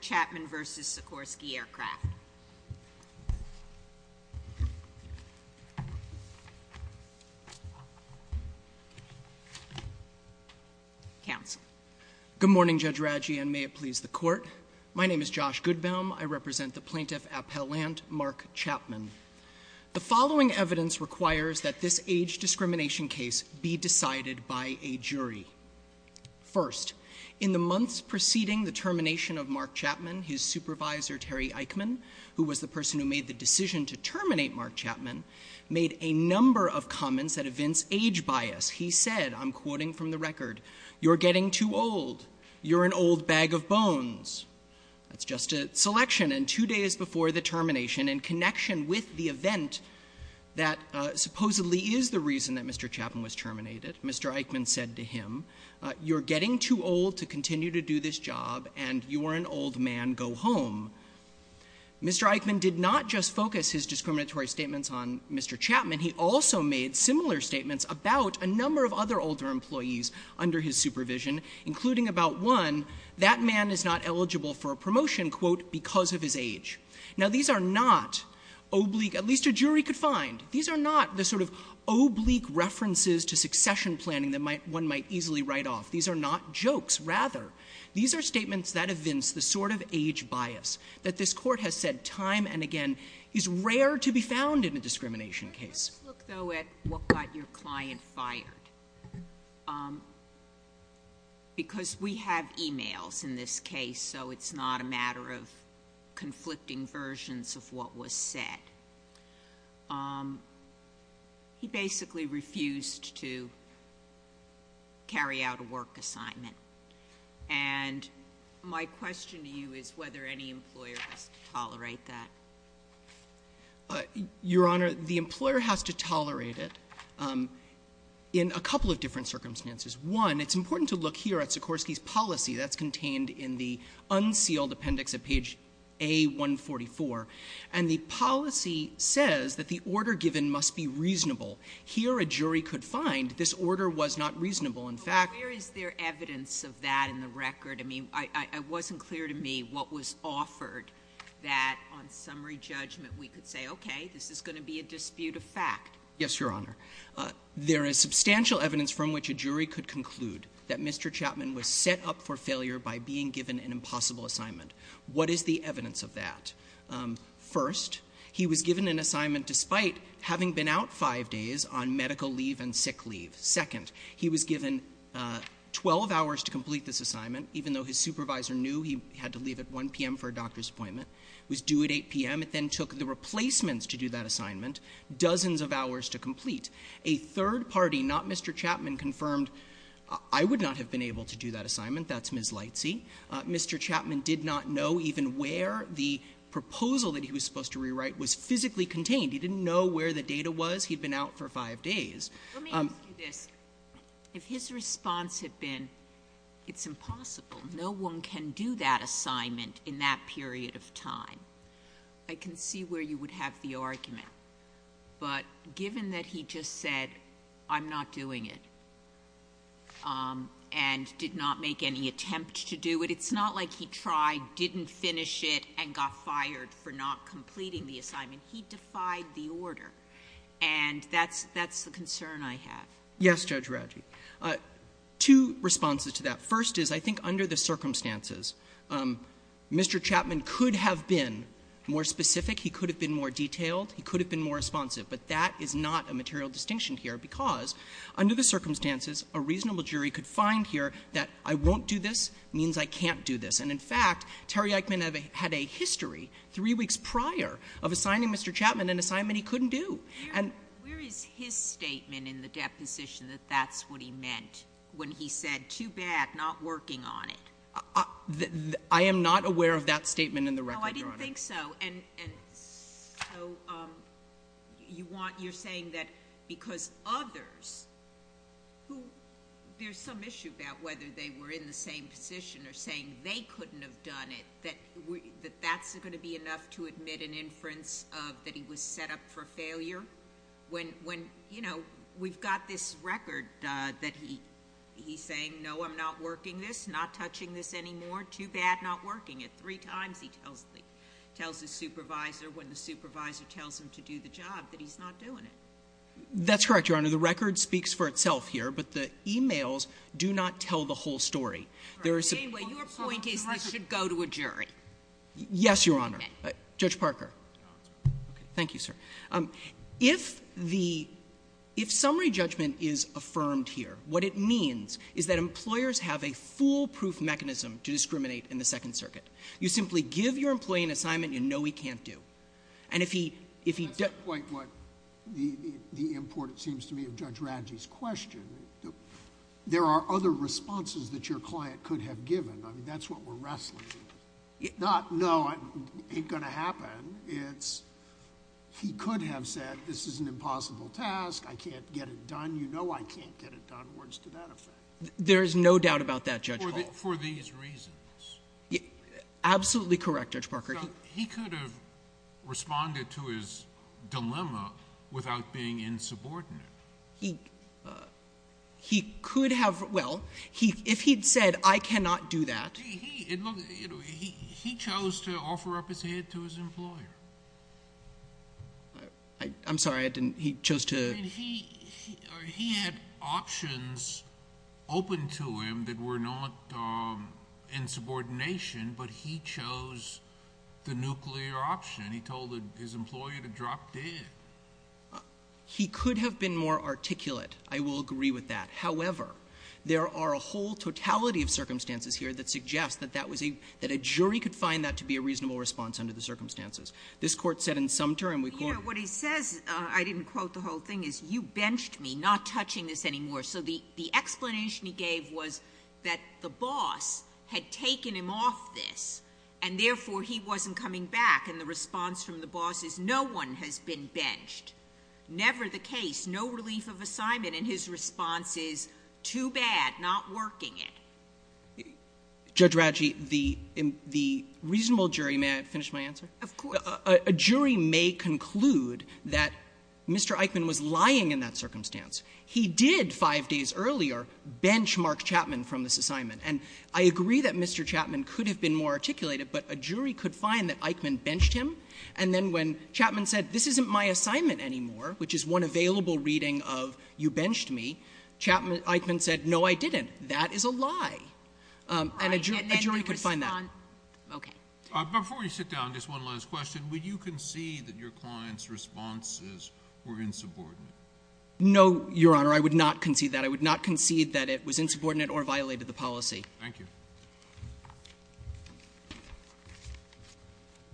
Chapman v. Sikorsky Aircraft. Good morning, Judge Radji, and may it please the Court. My name is Josh Goodbaum. I represent the plaintiff, Appellant Mark Chapman. The following evidence requires that this age discrimination case be decided by a jury. First, in the months preceding the termination of Mark Chapman, his supervisor, Terry Eichmann, who was the person who made the decision to terminate Mark Chapman, made a number of comments at events age bias. He said, I'm quoting from the record, you're getting too old. You're an old bag of bones. That's just a selection. And two days before the termination, in connection with the event that supposedly is the reason that Mr. Chapman was terminated, Mr. Eichmann said to him, you're getting too old to continue to do this job, and you're an old man. Go home. Mr. Eichmann did not just focus his discriminatory statements on Mr. Chapman. He also made similar statements about a number of other older employees under his supervision, including about one, that man is not eligible for a promotion, quote, because of his age. Now, these are not oblique, at least a jury could find, these are not the sort of oblique references to succession planning that one might easily write off. These are not jokes. Rather, these are statements that evince the sort of age bias that this Court has said time and again is rare to be found in a discrimination case. Just look, though, at what got your client fired. Because we have e-mails in this case, so it's not a matter of conflicting versions of what was said. He basically refused to carry out a work assignment. And my question to you is whether any employer has to tolerate that. Your Honor, the employer has to tolerate it in a couple of different circumstances. One, it's important to look here at Sikorsky's policy. That's contained in the unsealed appendix at page A-144. And the policy says that the order given must be reasonable. Here, a jury could find this order was not reasonable. In fact, Where is there evidence of that in the record? I mean, it wasn't clear to me what was offered that on summary judgment we could say, okay, this is going to be a dispute of fact. Yes, Your Honor. There is substantial evidence from which a jury could conclude that Mr. Chapman was set up for failure by being given an impossible assignment. What is the evidence of that? First, he was given an assignment despite having been out five days on medical leave and sick leave. Second, he was given 12 hours to complete this assignment, even though his supervisor knew he had to leave at 1 p.m. for a doctor's appointment. It was due at 8 p.m. It then took the replacements to do that assignment, dozens of hours to complete. A third party, not Mr. Chapman, confirmed, I would not have been able to do that assignment. That's Ms. Lightsey. Mr. Chapman did not know even where the proposal that he was supposed to rewrite was physically contained. He didn't know where the data was. He had been out for five days. Let me ask you this. If his response had been it's impossible, no one can do that assignment in that period of time, I can see where you would have the argument. But given that he just said I'm not doing it and did not make any attempt to do it, it's not like he tried, didn't finish it, and got fired for not completing the assignment. He defied the order. And that's the concern I have. Yes, Judge Raggi. Two responses to that. First is, I think under the circumstances, Mr. Chapman could have been more specific. He could have been more detailed. He could have been more responsive. But that is not a material distinction here, because under the circumstances, a reasonable jury could find here that I won't do this means I can't do this. And in fact, Terry Eichmann had a history three weeks prior of assigning Mr. Chapman an assignment he couldn't do. Where is his statement in the deposition that that's what he meant when he said too bad, not working on it? I am not aware of that statement in the record, Your Honor. I didn't think so. And so you're saying that because others who there's some issue about whether they were in the same position or saying they couldn't have done it, that that's going to be enough to admit an inference of that he was set up for failure? When we've got this record that he's saying, no, I'm not working this, not touching this anymore, too bad, not working it. Three times he tells the supervisor when the supervisor tells him to do the job that he's not doing it. That's correct, Your Honor. The record speaks for itself here, but the e-mails do not tell the whole story. Your point is this should go to a jury. Yes, Your Honor. Judge Parker. Thank you, sir. If the summary judgment is affirmed here, what it means is that employers have a foolproof mechanism to discriminate in the Second Circuit. You simply give your employee an assignment you know he can't do. And if he does — That's not quite what the import, it seems to me, of Judge Radji's question. There are other responses that your client could have given. I mean, that's what we're wrestling with. Not, no, it ain't going to happen. It's he could have said this is an impossible task. I can't get it done. You know I can't get it done. Words to that effect. There is no doubt about that, Judge Hall. For these reasons. Absolutely correct, Judge Parker. He could have responded to his dilemma without being insubordinate. He could have — well, if he'd said I cannot do that. He chose to offer up his head to his employer. I'm sorry, I didn't — he chose to — I mean, he had options open to him that were not insubordination, but he chose the nuclear option. He told his employer to drop dead. He could have been more articulate. I will agree with that. However, there are a whole totality of circumstances here that suggest that that was a — that a jury could find that to be a reasonable response under the circumstances. This Court said in some term we — What he says, I didn't quote the whole thing, is you benched me, not touching this anymore. So the explanation he gave was that the boss had taken him off this, and therefore he wasn't coming back. And the response from the boss is no one has been benched. Never the case. No relief of assignment. And his response is too bad, not working it. Judge Radji, the reasonable jury — may I finish my answer? Of course. A jury may conclude that Mr. Eichmann was lying in that circumstance. He did, five days earlier, benchmark Chapman from this assignment. And I agree that Mr. Chapman could have been more articulated, but a jury could find that Eichmann benched him. And then when Chapman said, this isn't my assignment anymore, which is one available reading of you benched me, Chapman — Eichmann said, no, I didn't. That is a lie. And a jury could find that. Okay. Before we sit down, just one last question. Would you concede that your client's responses were insubordinate? No, Your Honor. I would not concede that. I would not concede that it was insubordinate or violated the policy. Thank you.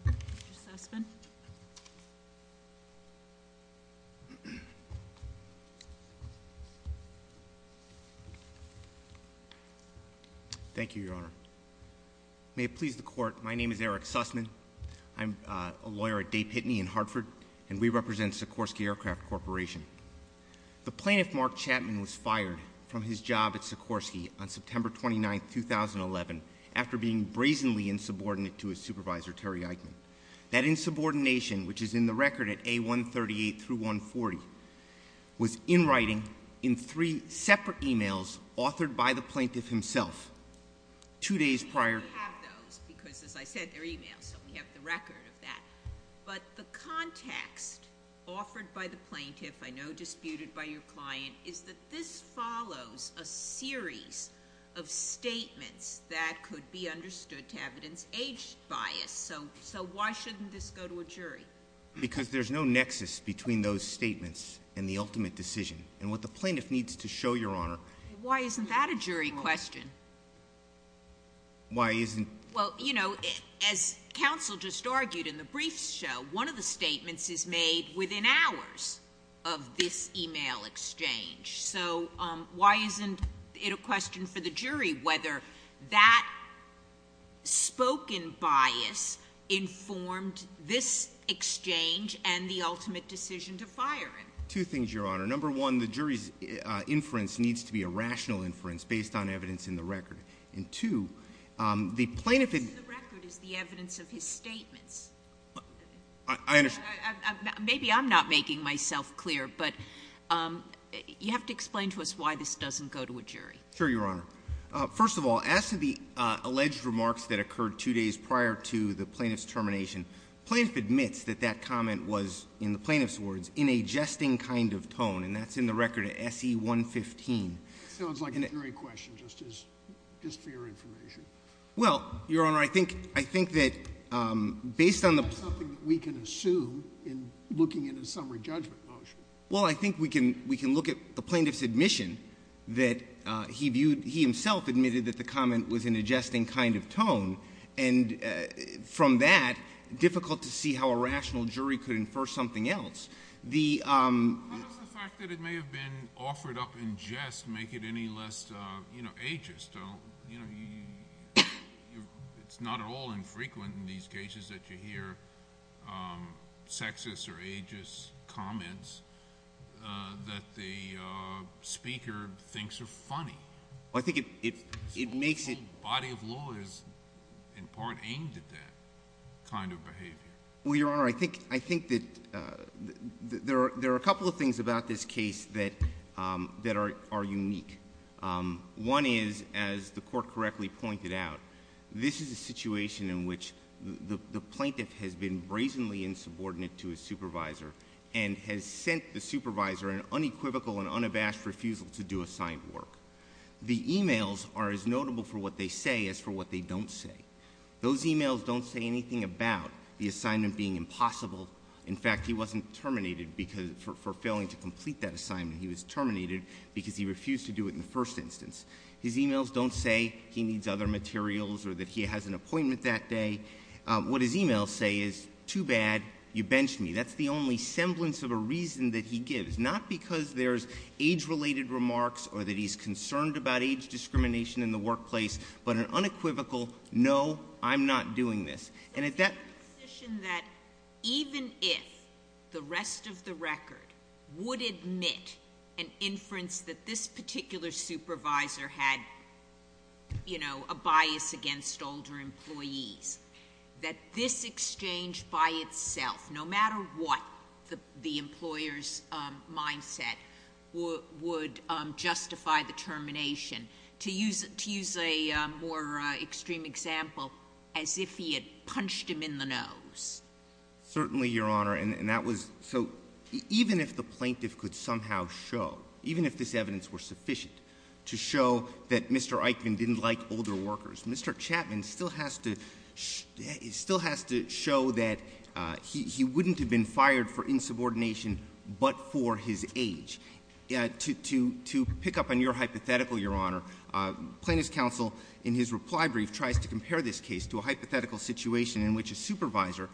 Mr. Sussman. Thank you, Your Honor. May it please the Court, my name is Eric Sussman. I'm a lawyer at Day Pitney in Hartford, and we represent Sikorsky Aircraft Corporation. The plaintiff, Mark Chapman, was fired from his job at Sikorsky on September 29, 2011, after being brazenly insubordinate to his supervisor, Terry Eichmann. That insubordination, which is in the record at A138 through 140, was in writing in three separate e-mails authored by the plaintiff himself two days prior. We do have those because, as I said, they're e-mails, so we have the record of that. But the context offered by the plaintiff, I know disputed by your client, is that this follows a series of statements that could be understood to evidence age bias. So why shouldn't this go to a jury? Because there's no nexus between those statements and the ultimate decision. And what the plaintiff needs to show, Your Honor— Why isn't that a jury question? Why isn't— Well, you know, as counsel just argued in the briefs show, one of the statements is made within hours of this e-mail exchange. So why isn't it a question for the jury whether that spoken bias informed this exchange and the ultimate decision to fire him? Two things, Your Honor. Number one, the jury's inference needs to be a rational inference based on evidence in the record. And two, the plaintiff— The evidence in the record is the evidence of his statements. I understand. Maybe I'm not making myself clear, but you have to explain to us why this doesn't go to a jury. Sure, Your Honor. First of all, as to the alleged remarks that occurred two days prior to the plaintiff's termination, the plaintiff admits that that comment was, in the plaintiff's words, in a jesting kind of tone, and that's in the record at S.E. 115. Sounds like a jury question just for your information. Well, Your Honor, I think that based on the— That's not something that we can assume in looking at a summary judgment motion. Well, I think we can look at the plaintiff's admission that he viewed— he himself admitted that the comment was in a jesting kind of tone. And from that, difficult to see how a rational jury could infer something else. How does the fact that it may have been offered up in jest make it any less ageist? It's not at all infrequent in these cases that you hear sexist or ageist comments that the speaker thinks are funny. I think it makes it— in part aimed at that kind of behavior. Well, Your Honor, I think that there are a couple of things about this case that are unique. One is, as the Court correctly pointed out, this is a situation in which the plaintiff has been brazenly insubordinate to his supervisor and has sent the supervisor an unequivocal and unabashed refusal to do assigned work. The e-mails are as notable for what they say as for what they don't say. Those e-mails don't say anything about the assignment being impossible. In fact, he wasn't terminated for failing to complete that assignment. He was terminated because he refused to do it in the first instance. His e-mails don't say he needs other materials or that he has an appointment that day. What his e-mails say is, too bad, you benched me. That's the only semblance of a reason that he gives. Not because there's age-related remarks or that he's concerned about age discrimination in the workplace, but an unequivocal, no, I'm not doing this. And at that— It's a position that even if the rest of the record would admit an inference that this particular supervisor had, you know, a bias against older employees, that this exchange by itself, no matter what the employer's mindset would justify the termination. To use a more extreme example, as if he had punched him in the nose. Certainly, Your Honor, and that was— So even if the plaintiff could somehow show, even if this evidence were sufficient to show that Mr. Eichmann didn't like older workers, Mr. Chapman still has to show that he wouldn't have been fired for insubordination but for his age. To pick up on your hypothetical, Your Honor, plaintiff's counsel in his reply brief tries to compare this case to a hypothetical situation in which a supervisor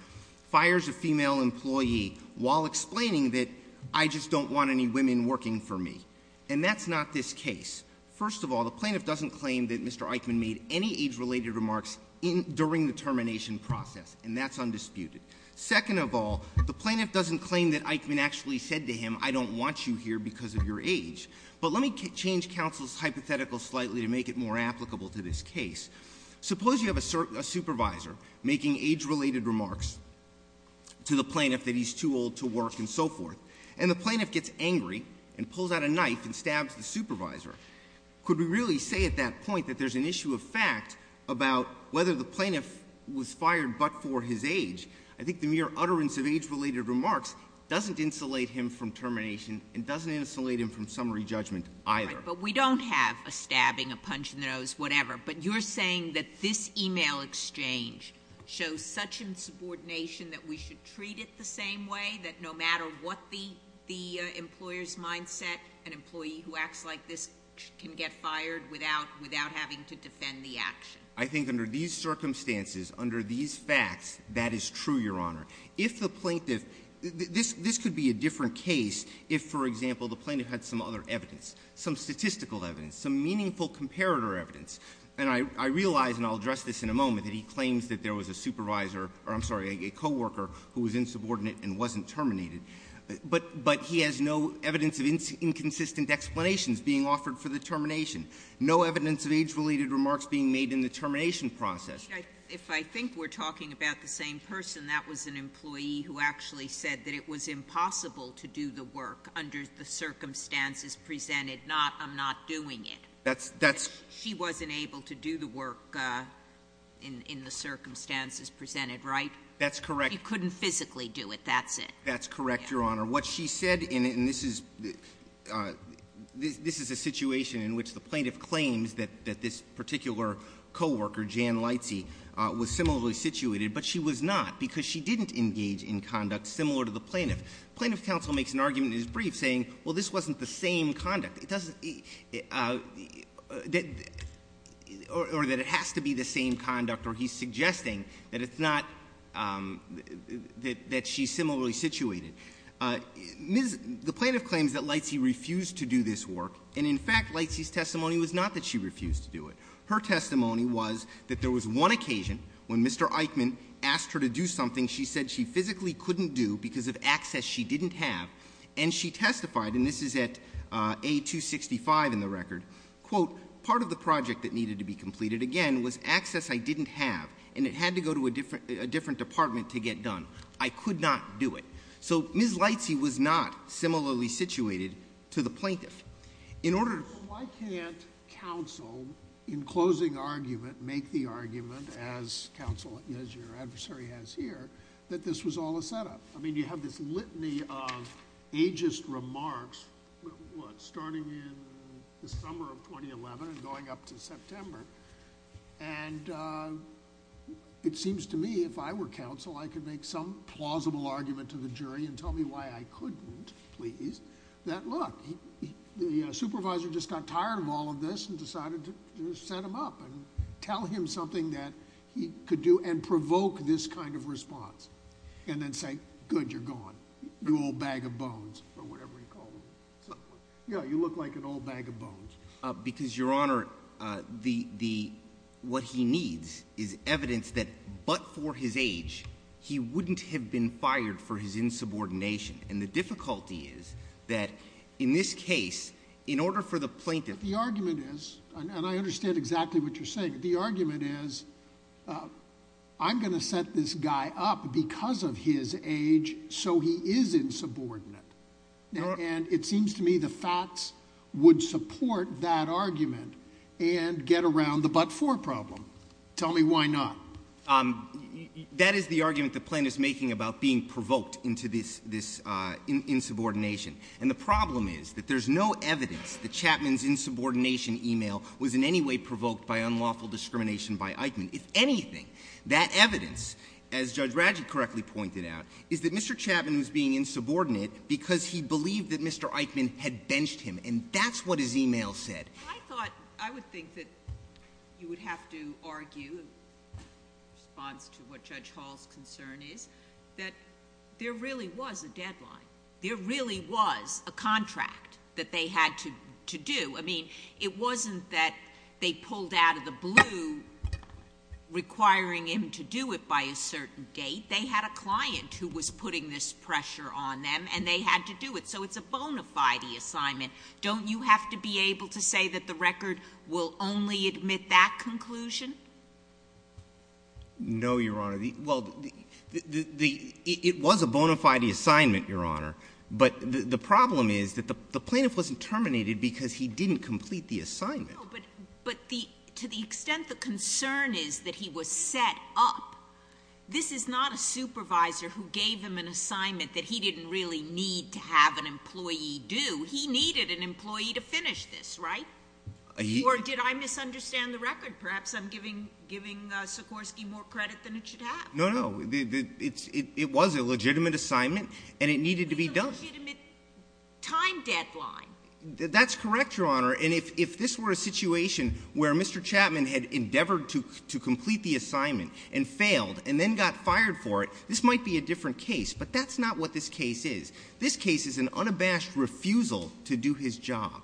fires a female employee while explaining that, I just don't want any women working for me. And that's not this case. First of all, the plaintiff doesn't claim that Mr. Eichmann made any age-related remarks during the termination process. And that's undisputed. Second of all, the plaintiff doesn't claim that Eichmann actually said to him, I don't want you here because of your age. But let me change counsel's hypothetical slightly to make it more applicable to this case. Suppose you have a supervisor making age-related remarks to the plaintiff that he's too old to work and so forth. And the plaintiff gets angry and pulls out a knife and stabs the supervisor. Could we really say at that point that there's an issue of fact about whether the plaintiff was fired but for his age? I think the mere utterance of age-related remarks doesn't insulate him from termination and doesn't insulate him from summary judgment either. But we don't have a stabbing, a punch in the nose, whatever. But you're saying that this e-mail exchange shows such insubordination that we should treat it the same way, that no matter what the employer's mindset, an employee who acts like this can get fired without having to defend the action? I think under these circumstances, under these facts, that is true, Your Honor. If the plaintiff, this could be a different case if, for example, the plaintiff had some other evidence, some statistical evidence, some meaningful comparator evidence. And I realize, and I'll address this in a moment, that he claims that there was a supervisor, or I'm sorry, a coworker who was insubordinate and wasn't terminated. But he has no evidence of inconsistent explanations being offered for the termination, no evidence of age-related remarks being made in the termination process. If I think we're talking about the same person, that was an employee who actually said that it was impossible to do the work under the circumstances presented, not I'm not doing it. That's — She wasn't able to do the work in the circumstances presented, right? That's correct. He couldn't physically do it. That's it. That's correct, Your Honor. What she said, and this is a situation in which the plaintiff claims that this particular coworker, Jan Leitze, was similarly situated, but she was not because she didn't engage in conduct similar to the plaintiff. Plaintiff counsel makes an argument in his brief saying, well, this wasn't the same conduct. It doesn't — or that it has to be the same conduct, or he's suggesting that it's not — that she's similarly situated. The plaintiff claims that Leitze refused to do this work, and in fact, Leitze's testimony was not that she refused to do it. Her testimony was that there was one occasion when Mr. Eichmann asked her to do something she said she physically couldn't do because of access she didn't have, and she testified, and this is at A265 in the record, quote, part of the project that needed to be completed again was access I didn't have, and it had to go to a different department to get done. I could not do it. So Ms. Leitze was not similarly situated to the plaintiff. In order to — Why can't counsel, in closing argument, make the argument, as counsel — as your adversary has here, that this was all a setup? I mean, you have this litany of ageist remarks, what, starting in the summer of 2011 and going up to September, and it seems to me if I were counsel, I could make some plausible argument to the jury and tell me why I couldn't, please, that, look, the supervisor just got tired of all of this and decided to set him up and tell him something that he could do and provoke this kind of response and then say, good, you're gone, you old bag of bones, or whatever you call them. Yeah, you look like an old bag of bones. Because, Your Honor, what he needs is evidence that but for his age he wouldn't have been fired for his insubordination, and the difficulty is that in this case, in order for the plaintiff — The argument is — and I understand exactly what you're saying. The argument is I'm going to set this guy up because of his age so he is insubordinate. And it seems to me the facts would support that argument and get around the but for problem. Tell me why not. That is the argument the plaintiff's making about being provoked into this insubordination. And the problem is that there's no evidence that Chapman's insubordination e-mail was in any way provoked by unlawful discrimination by Eichmann. If anything, that evidence, as Judge Radgett correctly pointed out, is that Mr. Chapman was being insubordinate because he believed that Mr. Eichmann had benched him, and that's what his e-mail said. I thought — I would think that you would have to argue in response to what Judge Hall's concern is that there really was a deadline. There really was a contract that they had to do. I mean, it wasn't that they pulled out of the blue requiring him to do it by a certain date. They had a client who was putting this pressure on them, and they had to do it. So it's a bona fide assignment. Don't you have to be able to say that the record will only admit that conclusion? No, Your Honor. Well, it was a bona fide assignment, Your Honor. But the problem is that the plaintiff wasn't terminated because he didn't complete the assignment. But to the extent the concern is that he was set up, this is not a supervisor who gave him an assignment that he didn't really need to have an employee do. He needed an employee to finish this, right? Or did I misunderstand the record? Perhaps I'm giving Sikorsky more credit than it should have. No, no. It was a legitimate assignment, and it needed to be done. It was a legitimate time deadline. That's correct, Your Honor. And if this were a situation where Mr. Chapman had endeavored to complete the assignment and failed and then got fired for it, this might be a different case. But that's not what this case is. This case is an unabashed refusal to do his job.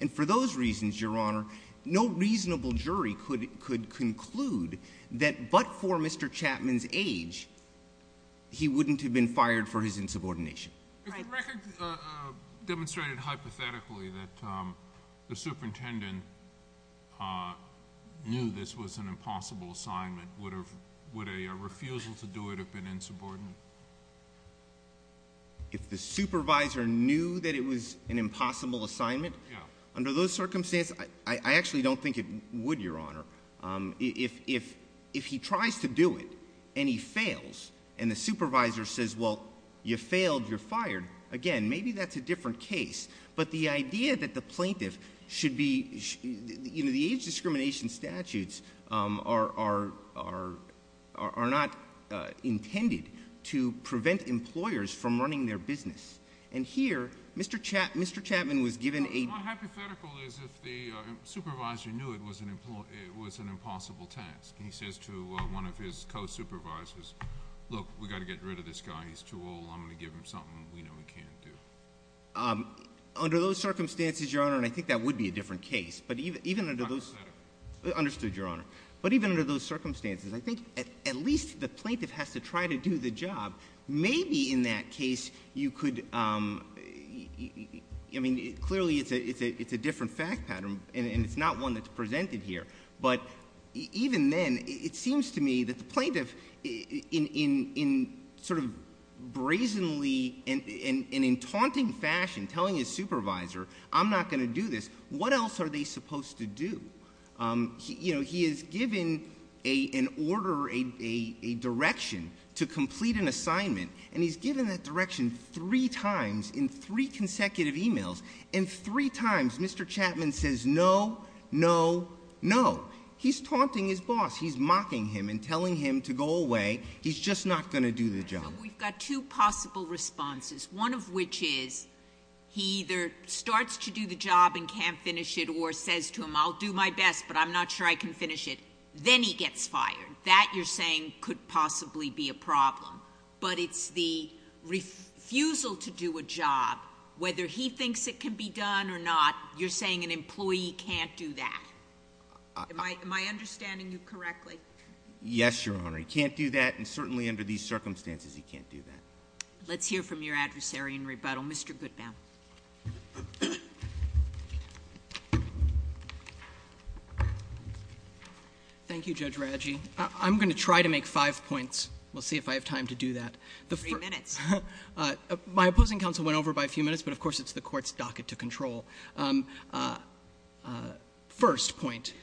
And for those reasons, Your Honor, no reasonable jury could conclude that but for Mr. Chapman's age, he wouldn't have been fired for his insubordination. If the record demonstrated hypothetically that the superintendent knew this was an impossible assignment, would a refusal to do it have been insubordinate? If the supervisor knew that it was an impossible assignment? Yeah. Under those circumstances, I actually don't think it would, Your Honor. If he tries to do it and he fails and the supervisor says, well, you failed, you're fired, again, maybe that's a different case. But the idea that the plaintiff should be, you know, the age discrimination statutes are not intended to prevent employers from running their business. And here, Mr. Chapman was given a- My hypothetical is if the supervisor knew it was an impossible task. He says to one of his co-supervisors, look, we've got to get rid of this guy, he's too old, I'm going to give him something we know he can't do. Under those circumstances, Your Honor, and I think that would be a different case, but even under those- A hypothetical. Understood, Your Honor. But even under those circumstances, I think at least the plaintiff has to try to do the job. Maybe in that case you could, I mean, clearly it's a different fact pattern and it's not one that's presented here. But even then, it seems to me that the plaintiff in sort of brazenly and in taunting fashion telling his supervisor, I'm not going to do this, what else are they supposed to do? You know, he is given an order, a direction to complete an assignment and he's given that direction three times in three consecutive emails. And three times, Mr. Chapman says no, no, no. He's taunting his boss. He's mocking him and telling him to go away. He's just not going to do the job. We've got two possible responses. One of which is he either starts to do the job and can't finish it or says to him, I'll do my best, but I'm not sure I can finish it. Then he gets fired. That, you're saying, could possibly be a problem. But it's the refusal to do a job, whether he thinks it can be done or not, you're saying an employee can't do that. Am I understanding you correctly? Yes, Your Honor. He can't do that and certainly under these circumstances he can't do that. Let's hear from your adversary in rebuttal. Mr. Goodman. Thank you, Judge Radji. I'm going to try to make five points. We'll see if I have time to do that. Three minutes. My opposing counsel went over by a few minutes, but of course it's the Court's docket to control. First point.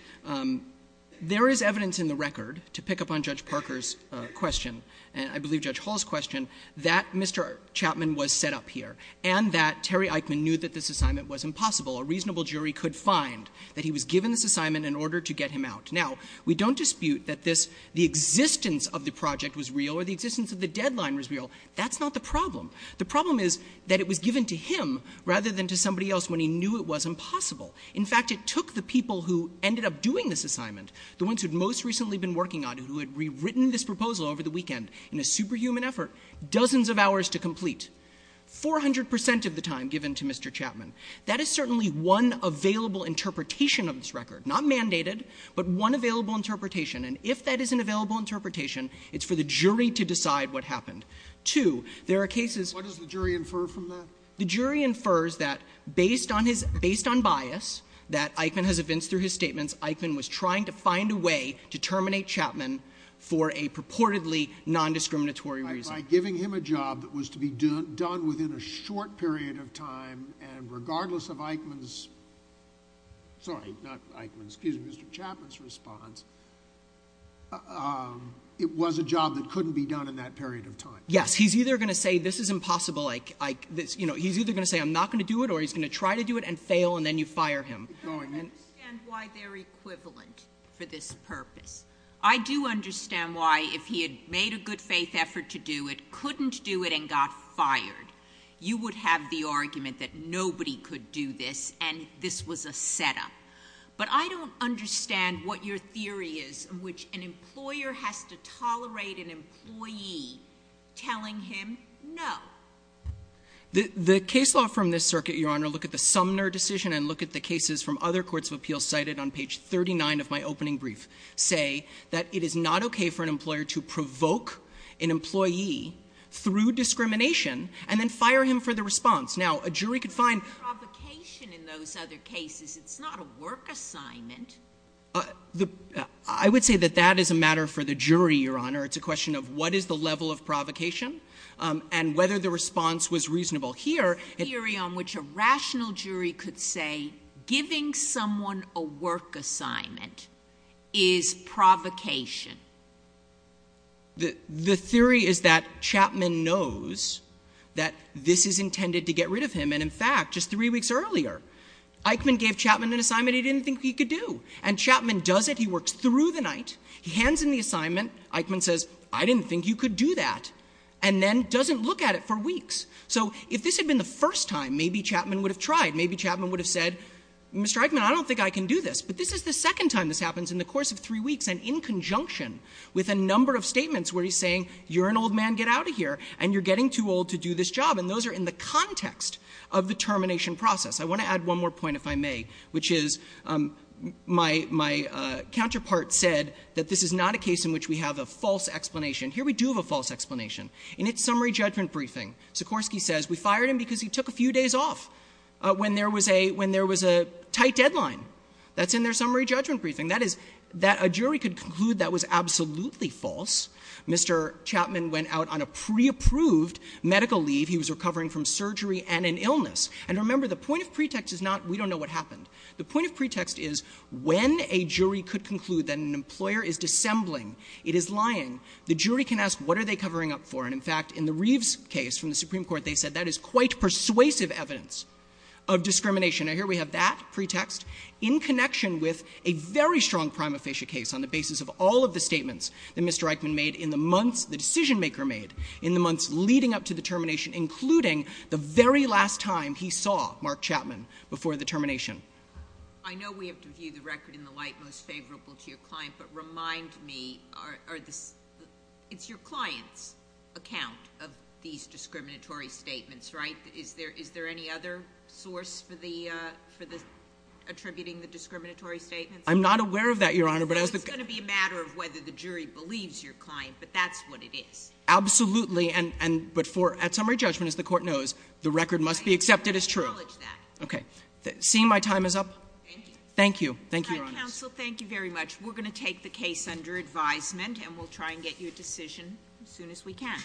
There is evidence in the record, to pick up on Judge Parker's question, and I believe Judge Hall's question, that Mr. Chapman was set up here and that Terry Eichmann knew that this assignment was impossible. A reasonable jury could find that he was given this assignment in order to get him out. Now, we don't dispute that this, the existence of the project was real or the existence of the deadline was real. That's not the problem. The problem is that it was given to him rather than to somebody else when he knew it was impossible. In fact, it took the people who ended up doing this assignment, the ones who had most recently been working on it, who had rewritten this proposal over the weekend in a super human effort, dozens of hours to complete, 400 percent of the time given to Mr. Chapman. That is certainly one available interpretation of this record. Not mandated, but one available interpretation. And if that is an available interpretation, it's for the jury to decide what happened. Two, there are cases that the jury infers that based on his, based on bias that Eichmann has evinced through his statements, Eichmann was trying to find a way to terminate Chapman for a purportedly nondiscriminatory reason. By giving him a job that was to be done within a short period of time and regardless of Eichmann's, sorry, not Eichmann's, excuse me, Mr. Chapman's response, it was a job that couldn't be done in that period of time. Yes. He's either going to say this is impossible, like, you know, he's either going to say I'm not going to do it or he's going to try to do it and fail and then you fire him. I don't understand why they're equivalent for this purpose. I do understand why if he had made a good faith effort to do it, couldn't do it and got fired, you would have the argument that nobody could do this and this was a setup. But I don't understand what your theory is in which an employer has to tolerate an employee telling him no. The case law from this circuit, Your Honor, look at the Sumner decision and look at the that it is not okay for an employer to provoke an employee through discrimination and then fire him for the response. Now, a jury could find... Provocation in those other cases. It's not a work assignment. I would say that that is a matter for the jury, Your Honor. It's a question of what is the level of provocation and whether the response was reasonable. The theory on which a rational jury could say giving someone a work assignment is provocation. The theory is that Chapman knows that this is intended to get rid of him. And in fact, just three weeks earlier, Eichmann gave Chapman an assignment he didn't think he could do. And Chapman does it. He works through the night. He hands him the assignment. Eichmann says, I didn't think you could do that. And then doesn't look at it for weeks. So if this had been the first time, maybe Chapman would have tried. Maybe Chapman would have said, Mr. Eichmann, I don't think I can do this. But this is the second time this happens in the course of three weeks and in conjunction with a number of statements where he's saying, you're an old man, get out of here, and you're getting too old to do this job. And those are in the context of the termination process. I want to add one more point, if I may, which is my counterpart said that this is not a case in which we have a false explanation. Here we do have a false explanation. In its summary judgment briefing, Sikorsky says we fired him because he took a few days off when there was a tight deadline. That's in their summary judgment briefing. That is, that a jury could conclude that was absolutely false. Mr. Chapman went out on a preapproved medical leave. He was recovering from surgery and an illness. And remember, the point of pretext is not we don't know what happened. The point of pretext is when a jury could conclude that an employer is dissembling, it is lying, the jury can ask what are they covering up for. And, in fact, in the Reeves case from the Supreme Court, they said that is quite persuasive evidence of discrimination. Now, here we have that pretext in connection with a very strong prima facie case on the basis of all of the statements that Mr. Eichmann made in the months, the decision maker made in the months leading up to the termination, including the very last time he saw Mark Chapman before the termination. I know we have to view the record in the light most favorable to your client, but remind me, it's your client's account of these discriminatory statements, right? Is there any other source for attributing the discriminatory statements? I'm not aware of that, Your Honor. It's going to be a matter of whether the jury believes your client, but that's what it is. Absolutely, but at summary judgment, as the Court knows, the record must be accepted as true. Acknowledge that. Okay. Seeing my time is up. Thank you. Thank you, Your Honor. Counsel, thank you very much. We're going to take the case under advisement, and we'll try and get you a decision as soon as we can.